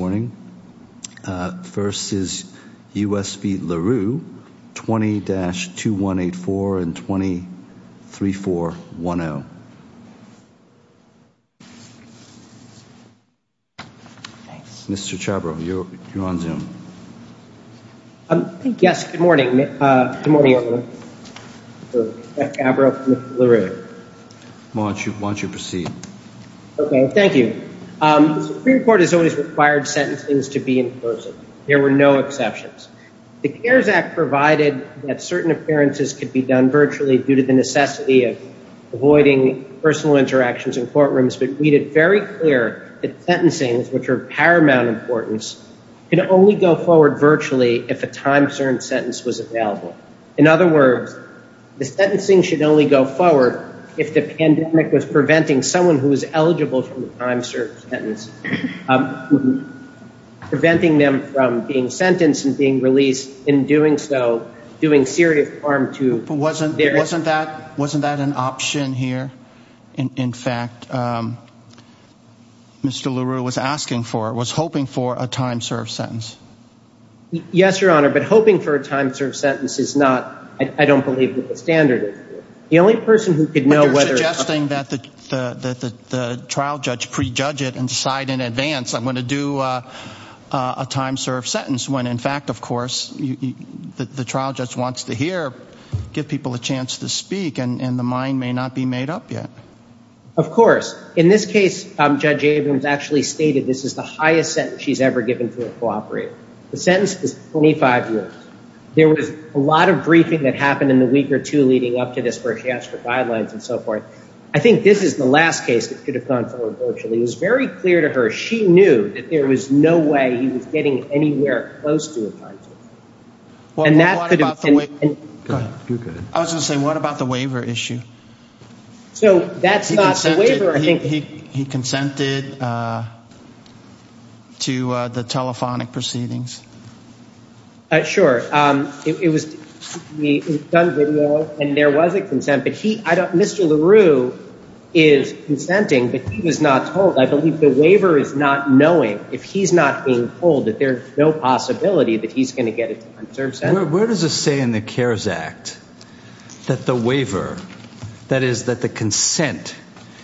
20-2184 and 20-3410 Mr. Chabrow, you're on Zoom Yes, good morning, Mr. Chabrow, Mr. Leroux Why don't you proceed? Okay, thank you. Supreme Court has always required sentencing to be in person. There were no exceptions. The CARES Act provided that certain appearances could be done virtually due to the necessity of avoiding personal interactions in courtrooms, but made it very clear that sentencing, which are of paramount importance, can only go forward virtually if a time-concerned sentence was available. In other words, the sentencing should only go forward if the pandemic was preventing someone who was eligible for the time-served sentence, preventing them from being sentenced and being released, in doing so, doing serious harm to their... But wasn't that an option here? In fact, Mr. Leroux was asking for it, was hoping for a time-served sentence. Yes, Your Honor, but hoping for a time-served sentence is not, I don't believe, the standard. The only person who could know whether... But you're suggesting that the trial judge prejudge it and decide in advance, I'm going to do a time-served sentence, when in fact, of course, the trial judge wants to hear, give people a chance to speak, and the mind may not be made up yet. Of course. In this case, Judge Abrams actually stated this is the highest sentence she's ever given to a cooperator. The sentence is 25 years. There was a lot of briefing that happened in the week or two leading up to this where she asked for guidelines and so forth. I think this is the last case that could have gone forward virtually. It was very clear to her. She knew that there was no way he was getting anywhere close to a time-served sentence. I was going to say, what about the waiver issue? He consented to the telephonic proceedings. Sure. It was done video, and there was a consent, but Mr. LaRue is consenting, but he was not told. I believe the waiver is not knowing, if he's not being told, that there's no possibility that he's going to get a time-served sentence. Where does it say in the CARES Act that the waiver, that is that the consent,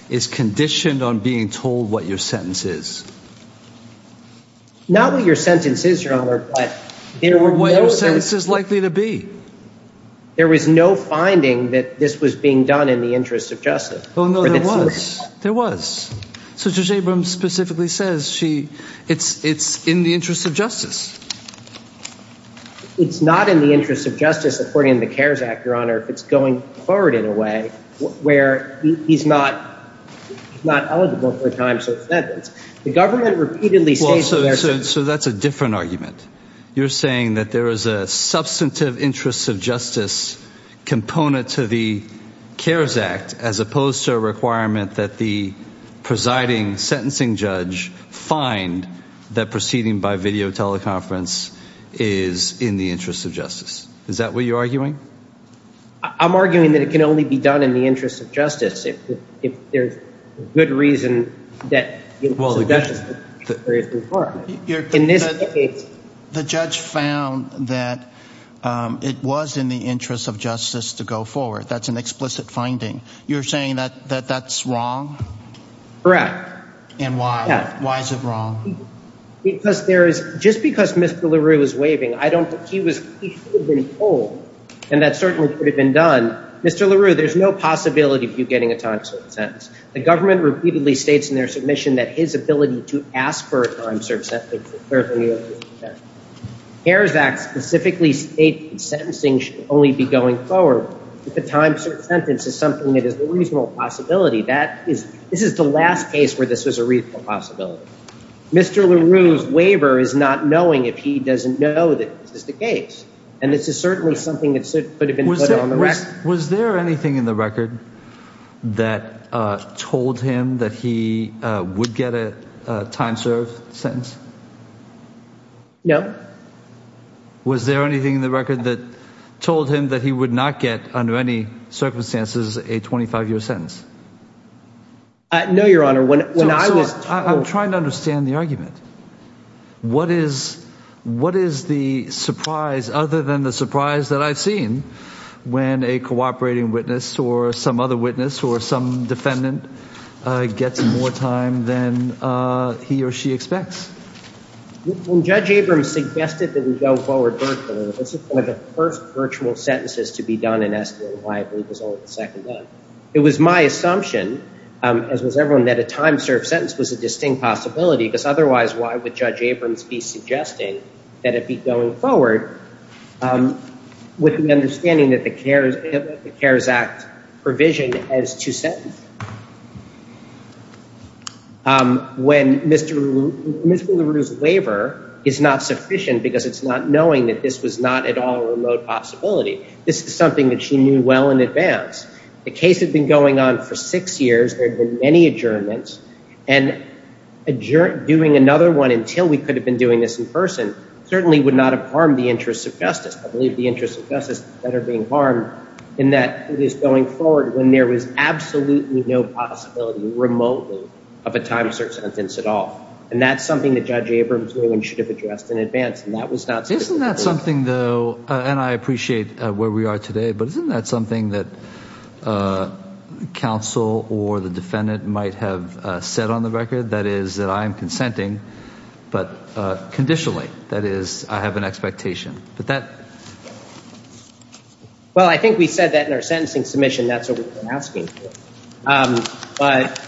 is conditioned on being told what your sentence is? Not what your sentence is, Your Honor, but what your sentence is likely to be. There was no finding that this was being done in the interest of justice. There was. So Judge Abrams specifically says it's in the interest of justice. It's not in the interest of justice, according to the CARES Act, Your Honor, if it's going forward in a way where he's not eligible for a time-served sentence. The government repeatedly states that there's... that the presiding sentencing judge find that proceeding by video teleconference is in the interest of justice. Is that what you're arguing? I'm arguing that it can only be done in the interest of justice if there's good reason that... The judge found that it was in the interest of justice to go forward. That's an explicit finding. You're saying that that's wrong? Correct. And why? Why is it wrong? Because there is... just because Mr. LaRue was waving, I don't... he was... he should have been told, and that certainly could have been done. Mr. LaRue, there's no possibility of you getting a time-served sentence. The government repeatedly states in their submission that his ability to ask for a time-served sentence is certainly in the interest of justice. CARES Act specifically states that sentencing should only be going forward if a time-served sentence is something that is a reasonable possibility. That is... this is the last case where this was a reasonable possibility. Mr. LaRue's waiver is not knowing if he doesn't know that this is the case. And this is certainly something that could have been put on the record. Was there anything in the record that told him that he would get a time-served sentence? No. Was there anything in the record that told him that he would not get, under any circumstances, a 25-year sentence? No, Your Honor. When I was told... What is... what is the surprise, other than the surprise that I've seen, when a cooperating witness or some other witness or some defendant gets more time than he or she expects? When Judge Abrams suggested that we go forward virtually, this is one of the first virtual sentences to be done in escalating liability. It was only the second one. It was my assumption, as was everyone, that a time-served sentence was a distinct possibility. Because otherwise, why would Judge Abrams be suggesting that it be going forward with the understanding that the CARES Act provisioned as to sentence? When Mr. LaRue's waiver is not sufficient because it's not knowing that this was not at all a remote possibility, this is something that she knew well in advance. The case had been going on for six years. There had been many adjournments. And doing another one until we could have been doing this in person certainly would not have harmed the interests of justice. I believe the interests of justice are better being harmed in that it is going forward when there is absolutely no possibility remotely of a time-served sentence at all. And that's something that Judge Abrams knew and should have addressed in advance, and that was not... One last thing, though, and I appreciate where we are today, but isn't that something that counsel or the defendant might have said on the record? That is, that I am consenting, but conditionally. That is, I have an expectation. Well, I think we said that in our sentencing submission. That's what we've been asking for. But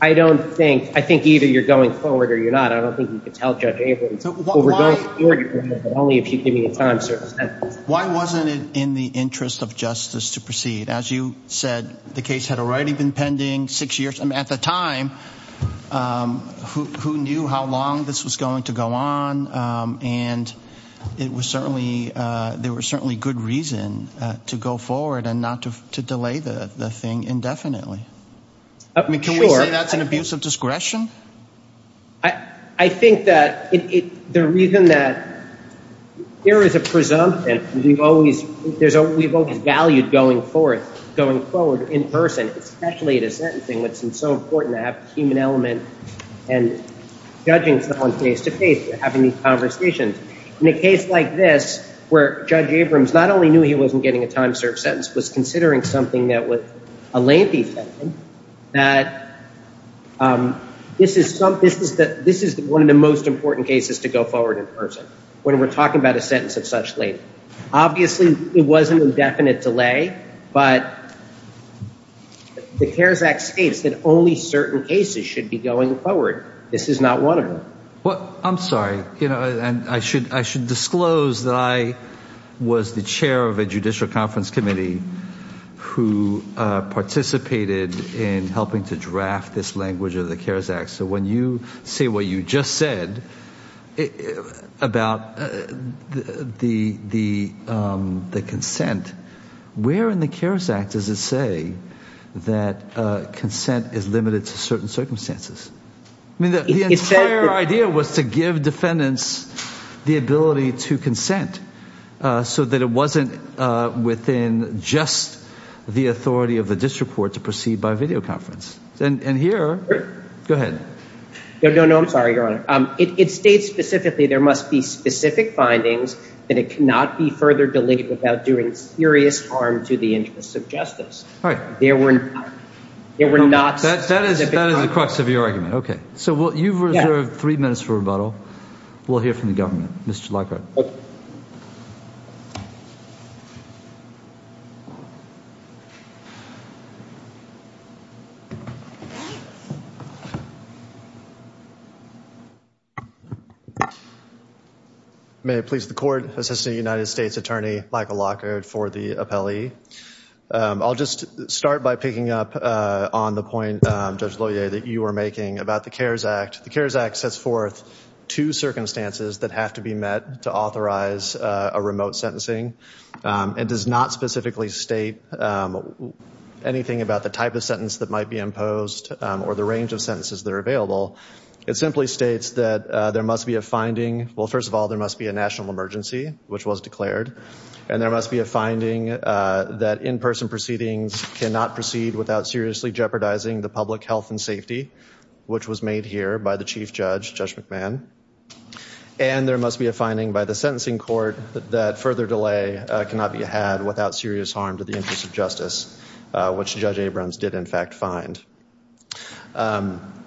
I don't think... I think either you're going forward or you're not. I don't think you can tell Judge Abrams. Only if you give me a time-served sentence. Why wasn't it in the interest of justice to proceed? As you said, the case had already been pending six years. I mean, at the time, who knew how long this was going to go on? And it was certainly... there was certainly good reason to go forward and not to delay the thing indefinitely. Can we say that's an abuse of discretion? I think that the reason that there is a presumption, we've always valued going forward in person, especially in a sentencing, when it's so important to have the human element and judging someone face-to-face, having these conversations. In a case like this, where Judge Abrams not only knew he wasn't getting a time-served sentence, was considering something that was a lengthy sentence, that this is one of the most important cases to go forward in person, when we're talking about a sentence of such length. Obviously, it was an indefinite delay, but the CARES Act states that only certain cases should be going forward. This is not one of them. Well, I'm sorry. I should disclose that I was the chair of a judicial conference committee who participated in helping to draft this language of the CARES Act. So when you say what you just said about the consent, where in the CARES Act does it say that consent is limited to certain circumstances? The entire idea was to give defendants the ability to consent so that it wasn't within just the authority of the district court to proceed by videoconference. And here – go ahead. No, no, no. I'm sorry, Your Honor. It states specifically there must be specific findings that it cannot be further delayed without doing serious harm to the interests of justice. There were not specific findings. That is the crux of your argument. Okay. So you've reserved three minutes for rebuttal. We'll hear from the government. Mr. Lockhart. May it please the court, Assistant United States Attorney Michael Lockhart for the appellee. I'll just start by picking up on the point, Judge Loyer, that you were making about the CARES Act. The CARES Act sets forth two circumstances that have to be met to authorize a remote sentencing. It does not specifically state anything about the type of sentence that might be imposed or the range of sentences that are available. It simply states that there must be a finding – well, first of all, there must be a national emergency, which was declared. And there must be a finding that in-person proceedings cannot proceed without seriously jeopardizing the public health and safety, which was made here by the Chief Judge, Judge McMahon. And there must be a finding by the sentencing court that further delay cannot be had without serious harm to the interests of justice, which Judge Abrams did, in fact, find.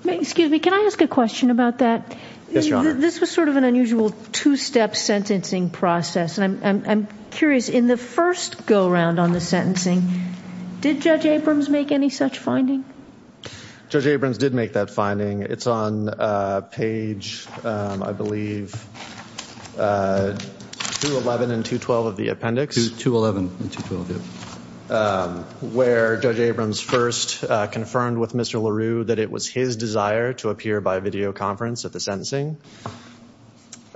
Excuse me. Can I ask a question about that? Yes, Your Honor. This was sort of an unusual two-step sentencing process, and I'm curious. In the first go-round on the sentencing, did Judge Abrams make any such finding? Judge Abrams did make that finding. It's on page, I believe, 211 and 212 of the appendix. 211 and 212, yes. Where Judge Abrams first confirmed with Mr. LaRue that it was his desire to appear by videoconference at the sentencing,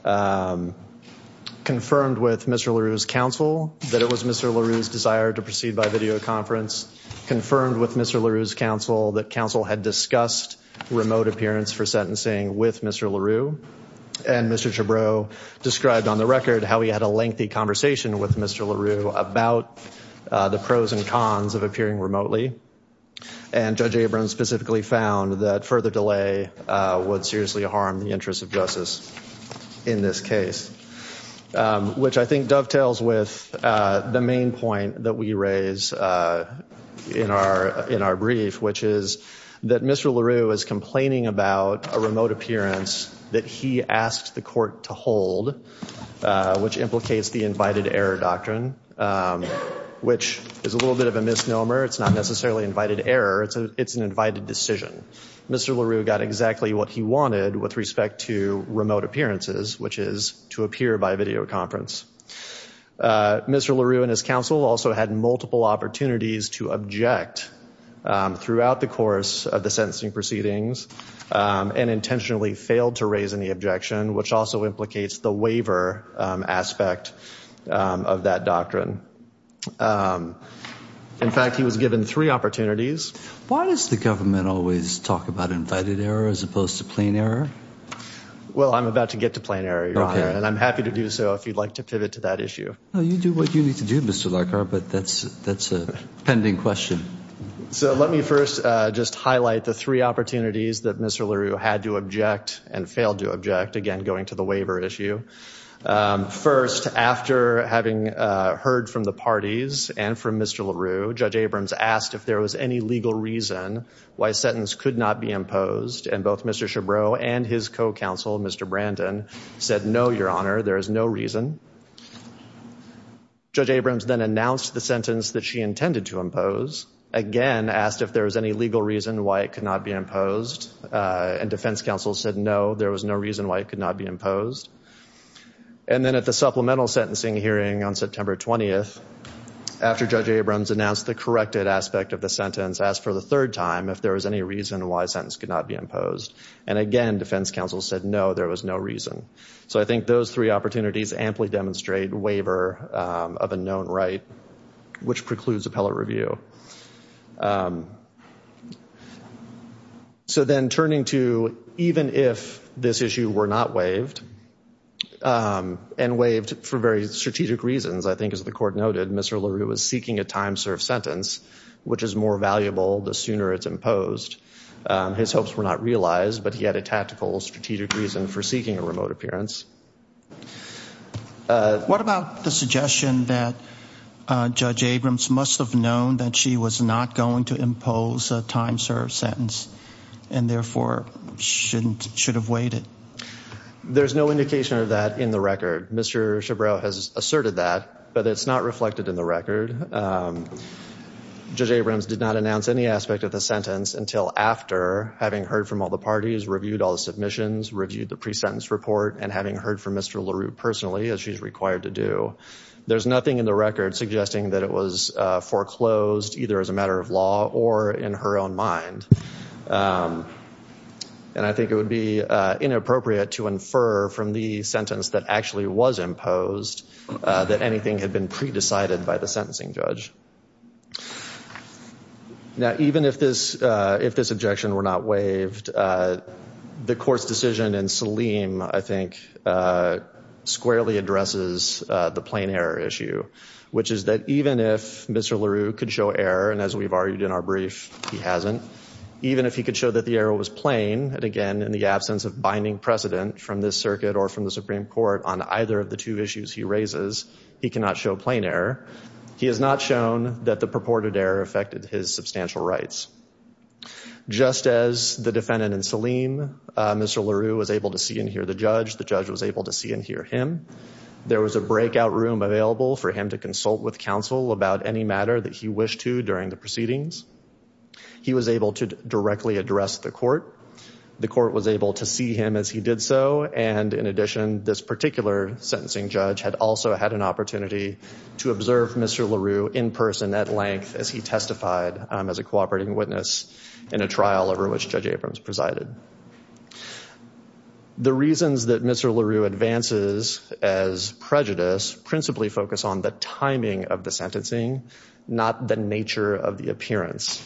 confirmed with Mr. LaRue's counsel that it was Mr. LaRue's desire to proceed by videoconference, confirmed with Mr. LaRue's counsel that counsel had discussed remote appearance for sentencing with Mr. LaRue, and Mr. Chabreau described on the record how he had a lengthy conversation with Mr. LaRue about the pros and cons of appearing remotely. And Judge Abrams specifically found that further delay would seriously harm the interests of justice in this case, which I think dovetails with the main point that we raise in our brief, which is that Mr. LaRue is complaining about a remote appearance that he asked the court to hold, which implicates the invited error doctrine, which is a little bit of a misnomer. It's not necessarily invited error. It's an invited decision. Mr. LaRue got exactly what he wanted with respect to remote appearances, which is to appear by videoconference. Mr. LaRue and his counsel also had multiple opportunities to object throughout the course of the sentencing proceedings and intentionally failed to raise any objection, which also implicates the waiver aspect of that doctrine. In fact, he was given three opportunities. Why does the government always talk about invited error as opposed to plain error? Well, I'm about to get to plain error, Your Honor, and I'm happy to do so if you'd like to pivot to that issue. Well, you do what you need to do, Mr. Leckar, but that's a pending question. So let me first just highlight the three opportunities that Mr. LaRue had to object and failed to object, again, going to the waiver issue. First, after having heard from the parties and from Mr. LaRue, Judge Abrams asked if there was any legal reason why a sentence could not be imposed, and both Mr. Chabreau and his co-counsel, Mr. Brandon, said, no, Your Honor, there is no reason. Judge Abrams then announced the sentence that she intended to impose, again asked if there was any legal reason why it could not be imposed, and defense counsel said, no, there was no reason why it could not be imposed. And then at the supplemental sentencing hearing on September 20th, after Judge Abrams announced the corrected aspect of the sentence, asked for the third time if there was any reason why a sentence could not be imposed, and again, defense counsel said, no, there was no reason. So I think those three opportunities amply demonstrate waiver of a known right, which precludes appellate review. So then turning to even if this issue were not waived, and waived for very strategic reasons, I think, as the court noted, Mr. LaRue was seeking a time-served sentence, which is more valuable the sooner it's imposed. His hopes were not realized, but he had a tactical, strategic reason for seeking a remote appearance. What about the suggestion that Judge Abrams must have known that she was not going to impose a time-served sentence, and therefore should have waited? There's no indication of that in the record. Mr. Chabreau has asserted that, but it's not reflected in the record. Judge Abrams did not announce any aspect of the sentence until after having heard from all the parties, reviewed all the submissions, reviewed the pre-sentence report, and having heard from Mr. LaRue personally, as she's required to do. There's nothing in the record suggesting that it was foreclosed, either as a matter of law or in her own mind. And I think it would be inappropriate to infer from the sentence that actually was imposed that anything had been pre-decided by the sentencing judge. Now, even if this objection were not waived, the court's decision in Selim, I think, squarely addresses the plain error issue, which is that even if Mr. LaRue could show error, and as we've argued in our brief, he hasn't, even if he could show that the error was plain, and again, in the absence of binding precedent from this circuit or from the Supreme Court on either of the two issues he raises, he cannot show plain error, he has not shown that the purported error affected his substantial rights. Just as the defendant in Selim, Mr. LaRue, was able to see and hear the judge, the judge was able to see and hear him. There was a breakout room available for him to consult with counsel about any matter that he wished to during the proceedings. He was able to directly address the court. The court was able to see him as he did so, and in addition, this particular sentencing judge had also had an opportunity to observe Mr. LaRue in person at length as he testified as a cooperating witness in a trial over which Judge Abrams presided. The reasons that Mr. LaRue advances as prejudice principally focus on the timing of the sentencing, not the nature of the appearance.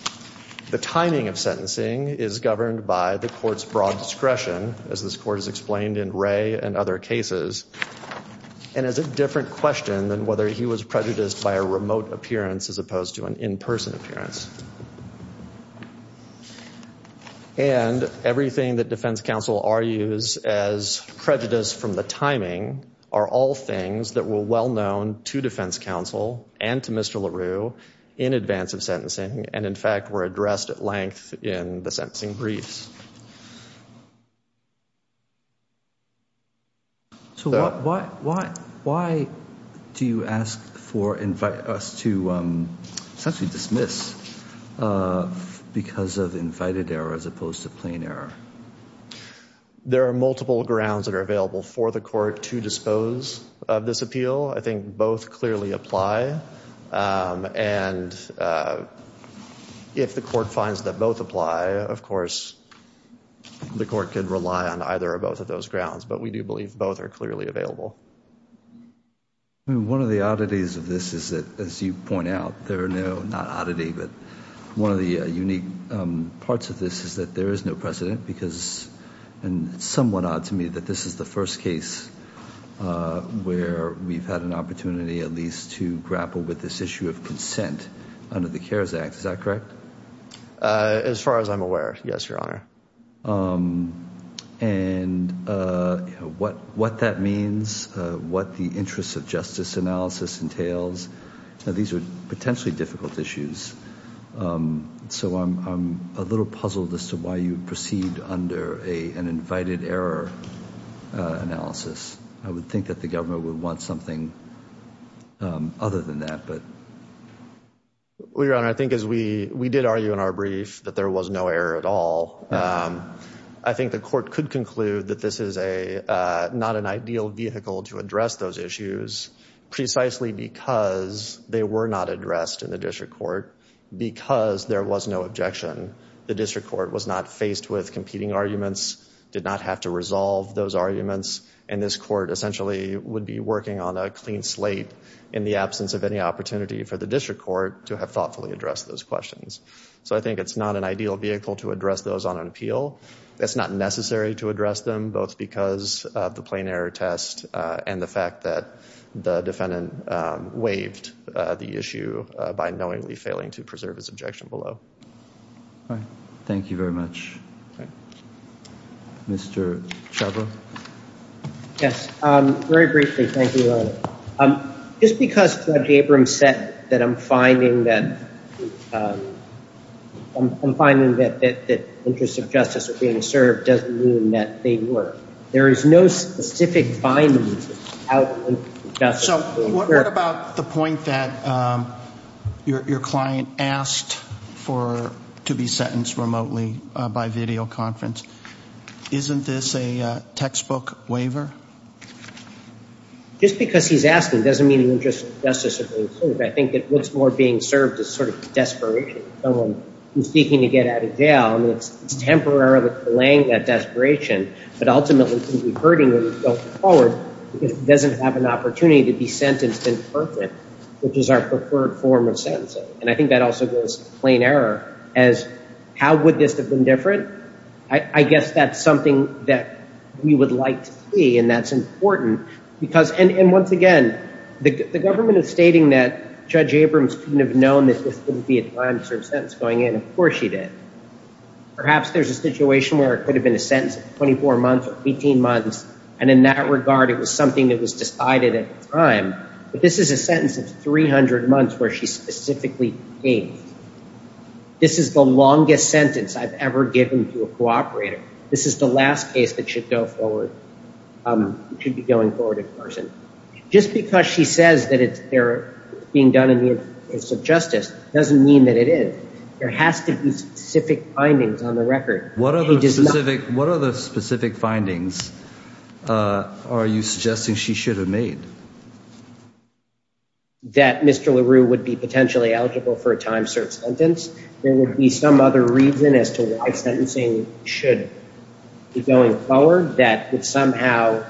The timing of sentencing is governed by the court's broad discretion, as this court has explained in Ray and other cases, and is a different question than whether he was prejudiced by a remote appearance as opposed to an in-person appearance. And everything that defense counsel argues as prejudice from the timing are all things that were well known to defense counsel and to Mr. LaRue in advance of sentencing, and in fact were addressed at length in the sentencing briefs. So why do you ask for, invite us to essentially dismiss because of invited error as opposed to plain error? There are multiple grounds that are available for the court to dispose of this appeal. I think both clearly apply, and if the court finds that both apply, of course, the court could rely on either or both of those grounds, but we do believe both are clearly available. One of the oddities of this is that, as you point out, there are no, not oddity, but one of the unique parts of this is that there is no precedent because, and it's somewhat odd to me that this is the first case where we've had an opportunity at least to grapple with this issue of consent under the CARES Act. Is that correct? As far as I'm aware, yes, Your Honor. And what that means, what the interest of justice analysis entails, these are potentially difficult issues. So I'm a little puzzled as to why you proceed under an invited error analysis. I would think that the government would want something other than that. Well, Your Honor, I think as we did argue in our brief that there was no error at all, I think the court could conclude that this is not an ideal vehicle to address those issues precisely because they were not addressed in the district court, because there was no objection. The district court was not faced with competing arguments, did not have to resolve those arguments, and this court essentially would be working on a clean slate in the absence of any opportunity for the district court to have thoughtfully addressed those questions. So I think it's not an ideal vehicle to address those on an appeal. That's not necessary to address them, both because of the plain error test and the fact that the defendant waived the issue by knowingly failing to preserve his objection below. Thank you very much. Mr. Chabot. Yes, very briefly. Thank you, Your Honor. Just because Judge Abrams said that I'm finding that interests of justice are being served doesn't mean that they weren't. There is no specific finding out of justice. So what about the point that your client asked to be sentenced remotely by videoconference? Isn't this a textbook waiver? Just because he's asking doesn't mean the interests of justice are being served. I think that what's more being served is sort of desperation. Someone who's seeking to get out of jail, I mean, it's temporarily delaying that desperation, but ultimately could be hurting them going forward because it doesn't have an opportunity to be sentenced in person, which is our preferred form of sentencing. And I think that also goes to plain error as how would this have been different? I guess that's something that we would like to see, and that's important. And once again, the government is stating that Judge Abrams couldn't have known that this wouldn't be a time-served sentence going in. Of course she did. Perhaps there's a situation where it could have been a sentence of 24 months or 18 months, and in that regard, it was something that was decided at the time. But this is a sentence of 300 months where she specifically came. This is the longest sentence I've ever given to a cooperator. This is the last case that should go forward. It should be going forward in person. Just because she says that it's being done in the interest of justice doesn't mean that it is. There has to be specific findings on the record. What other specific findings are you suggesting she should have made? That Mr. LaRue would be potentially eligible for a time-served sentence. There would be some other reason as to why sentencing should be going forward. That would somehow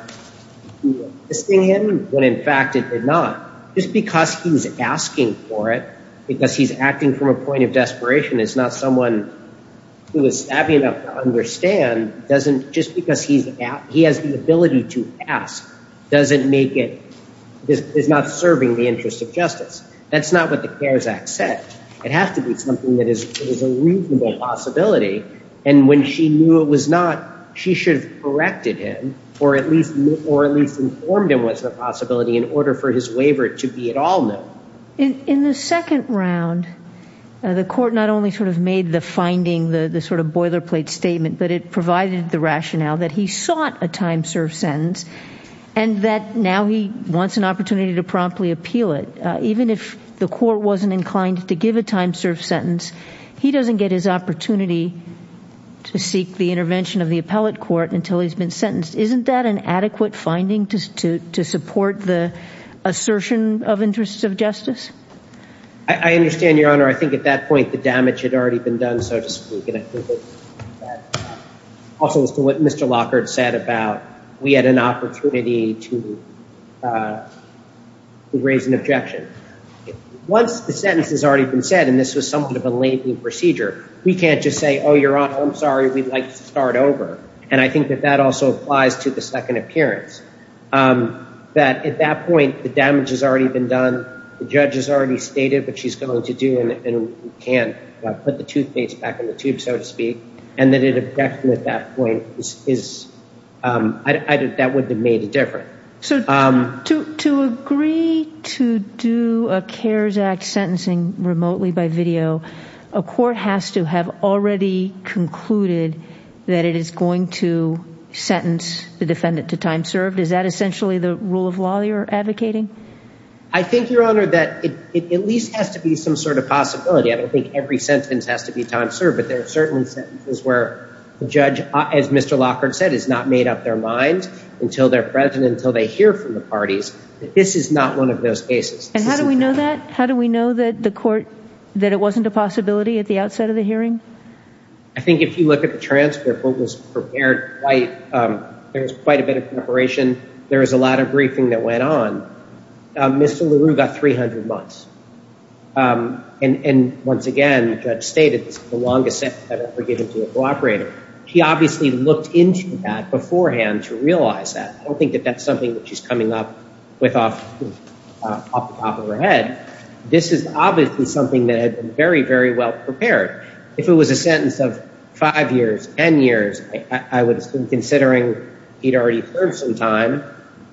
be assisting him, when in fact it did not. Just because he's asking for it, because he's acting from a point of desperation, is not someone who is savvy enough to understand. Just because he has the ability to ask is not serving the interest of justice. That's not what the CARES Act said. It has to be something that is a reasonable possibility. And when she knew it was not, she should have corrected him or at least informed him of the possibility in order for his waiver to be at all known. In the second round, the court not only made the finding, the sort of boilerplate statement, but it provided the rationale that he sought a time-served sentence and that now he wants an opportunity to promptly appeal it. Even if the court wasn't inclined to give a time-served sentence, he doesn't get his opportunity to seek the intervention of the appellate court until he's been sentenced. Isn't that an adequate finding to support the assertion of interest of justice? I understand, Your Honor. I think at that point the damage had already been done, so to speak. Also as to what Mr. Lockhart said about we had an opportunity to raise an objection. Once the sentence has already been said, and this was somewhat of a lengthy procedure, we can't just say, oh, Your Honor, I'm sorry, we'd like to start over. And I think that that also applies to the second appearance, that at that point the damage has already been done, the judge has already stated what she's going to do and we can't put the toothpaste back in the tube, so to speak, and that an objection at that point, that would have made a difference. So to agree to do a CARES Act sentencing remotely by video, a court has to have already concluded that it is going to sentence the defendant to time served. Is that essentially the rule of law you're advocating? I think, Your Honor, that it at least has to be some sort of possibility. I don't think every sentence has to be time served, but there are certain sentences where the judge, as Mr. Lockhart said, has not made up their minds until they're present, until they hear from the parties, that this is not one of those cases. And how do we know that? How do we know that the court, that it wasn't a possibility at the outset of the hearing? I think if you look at the transcript, what was prepared, there was quite a bit of preparation. There was a lot of briefing that went on. Mr. LaRue got 300 months. And once again, the judge stated, this is the longest sentence I've ever given to a cooperator. He obviously looked into that beforehand to realize that. I don't think that that's something that she's coming up with off the top of her head. This is obviously something that had been very, very well prepared. If it was a sentence of five years, ten years, I would assume considering he'd already served some time,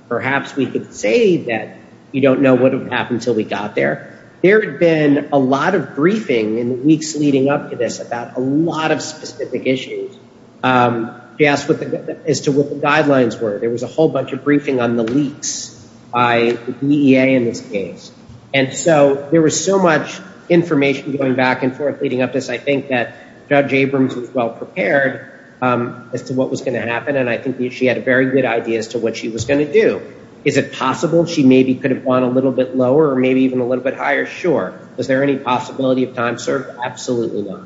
perhaps we could say that you don't know what would happen until we got there. There had been a lot of briefing in the weeks leading up to this about a lot of specific issues. She asked as to what the guidelines were. There was a whole bunch of briefing on the leaks by the DEA in this case. And so there was so much information going back and forth leading up to this, I think that Judge Abrams was well prepared as to what was going to happen, and I think she had a very good idea as to what she was going to do. Is it possible she maybe could have gone a little bit lower or maybe even a little bit higher? Sure. Is there any possibility of time served? Absolutely not.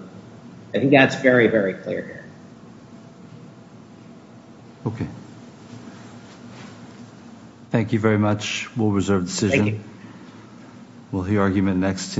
I think that's very, very clear here. Okay. Thank you very much. We'll reserve the decision. Thank you. We'll hear argument next.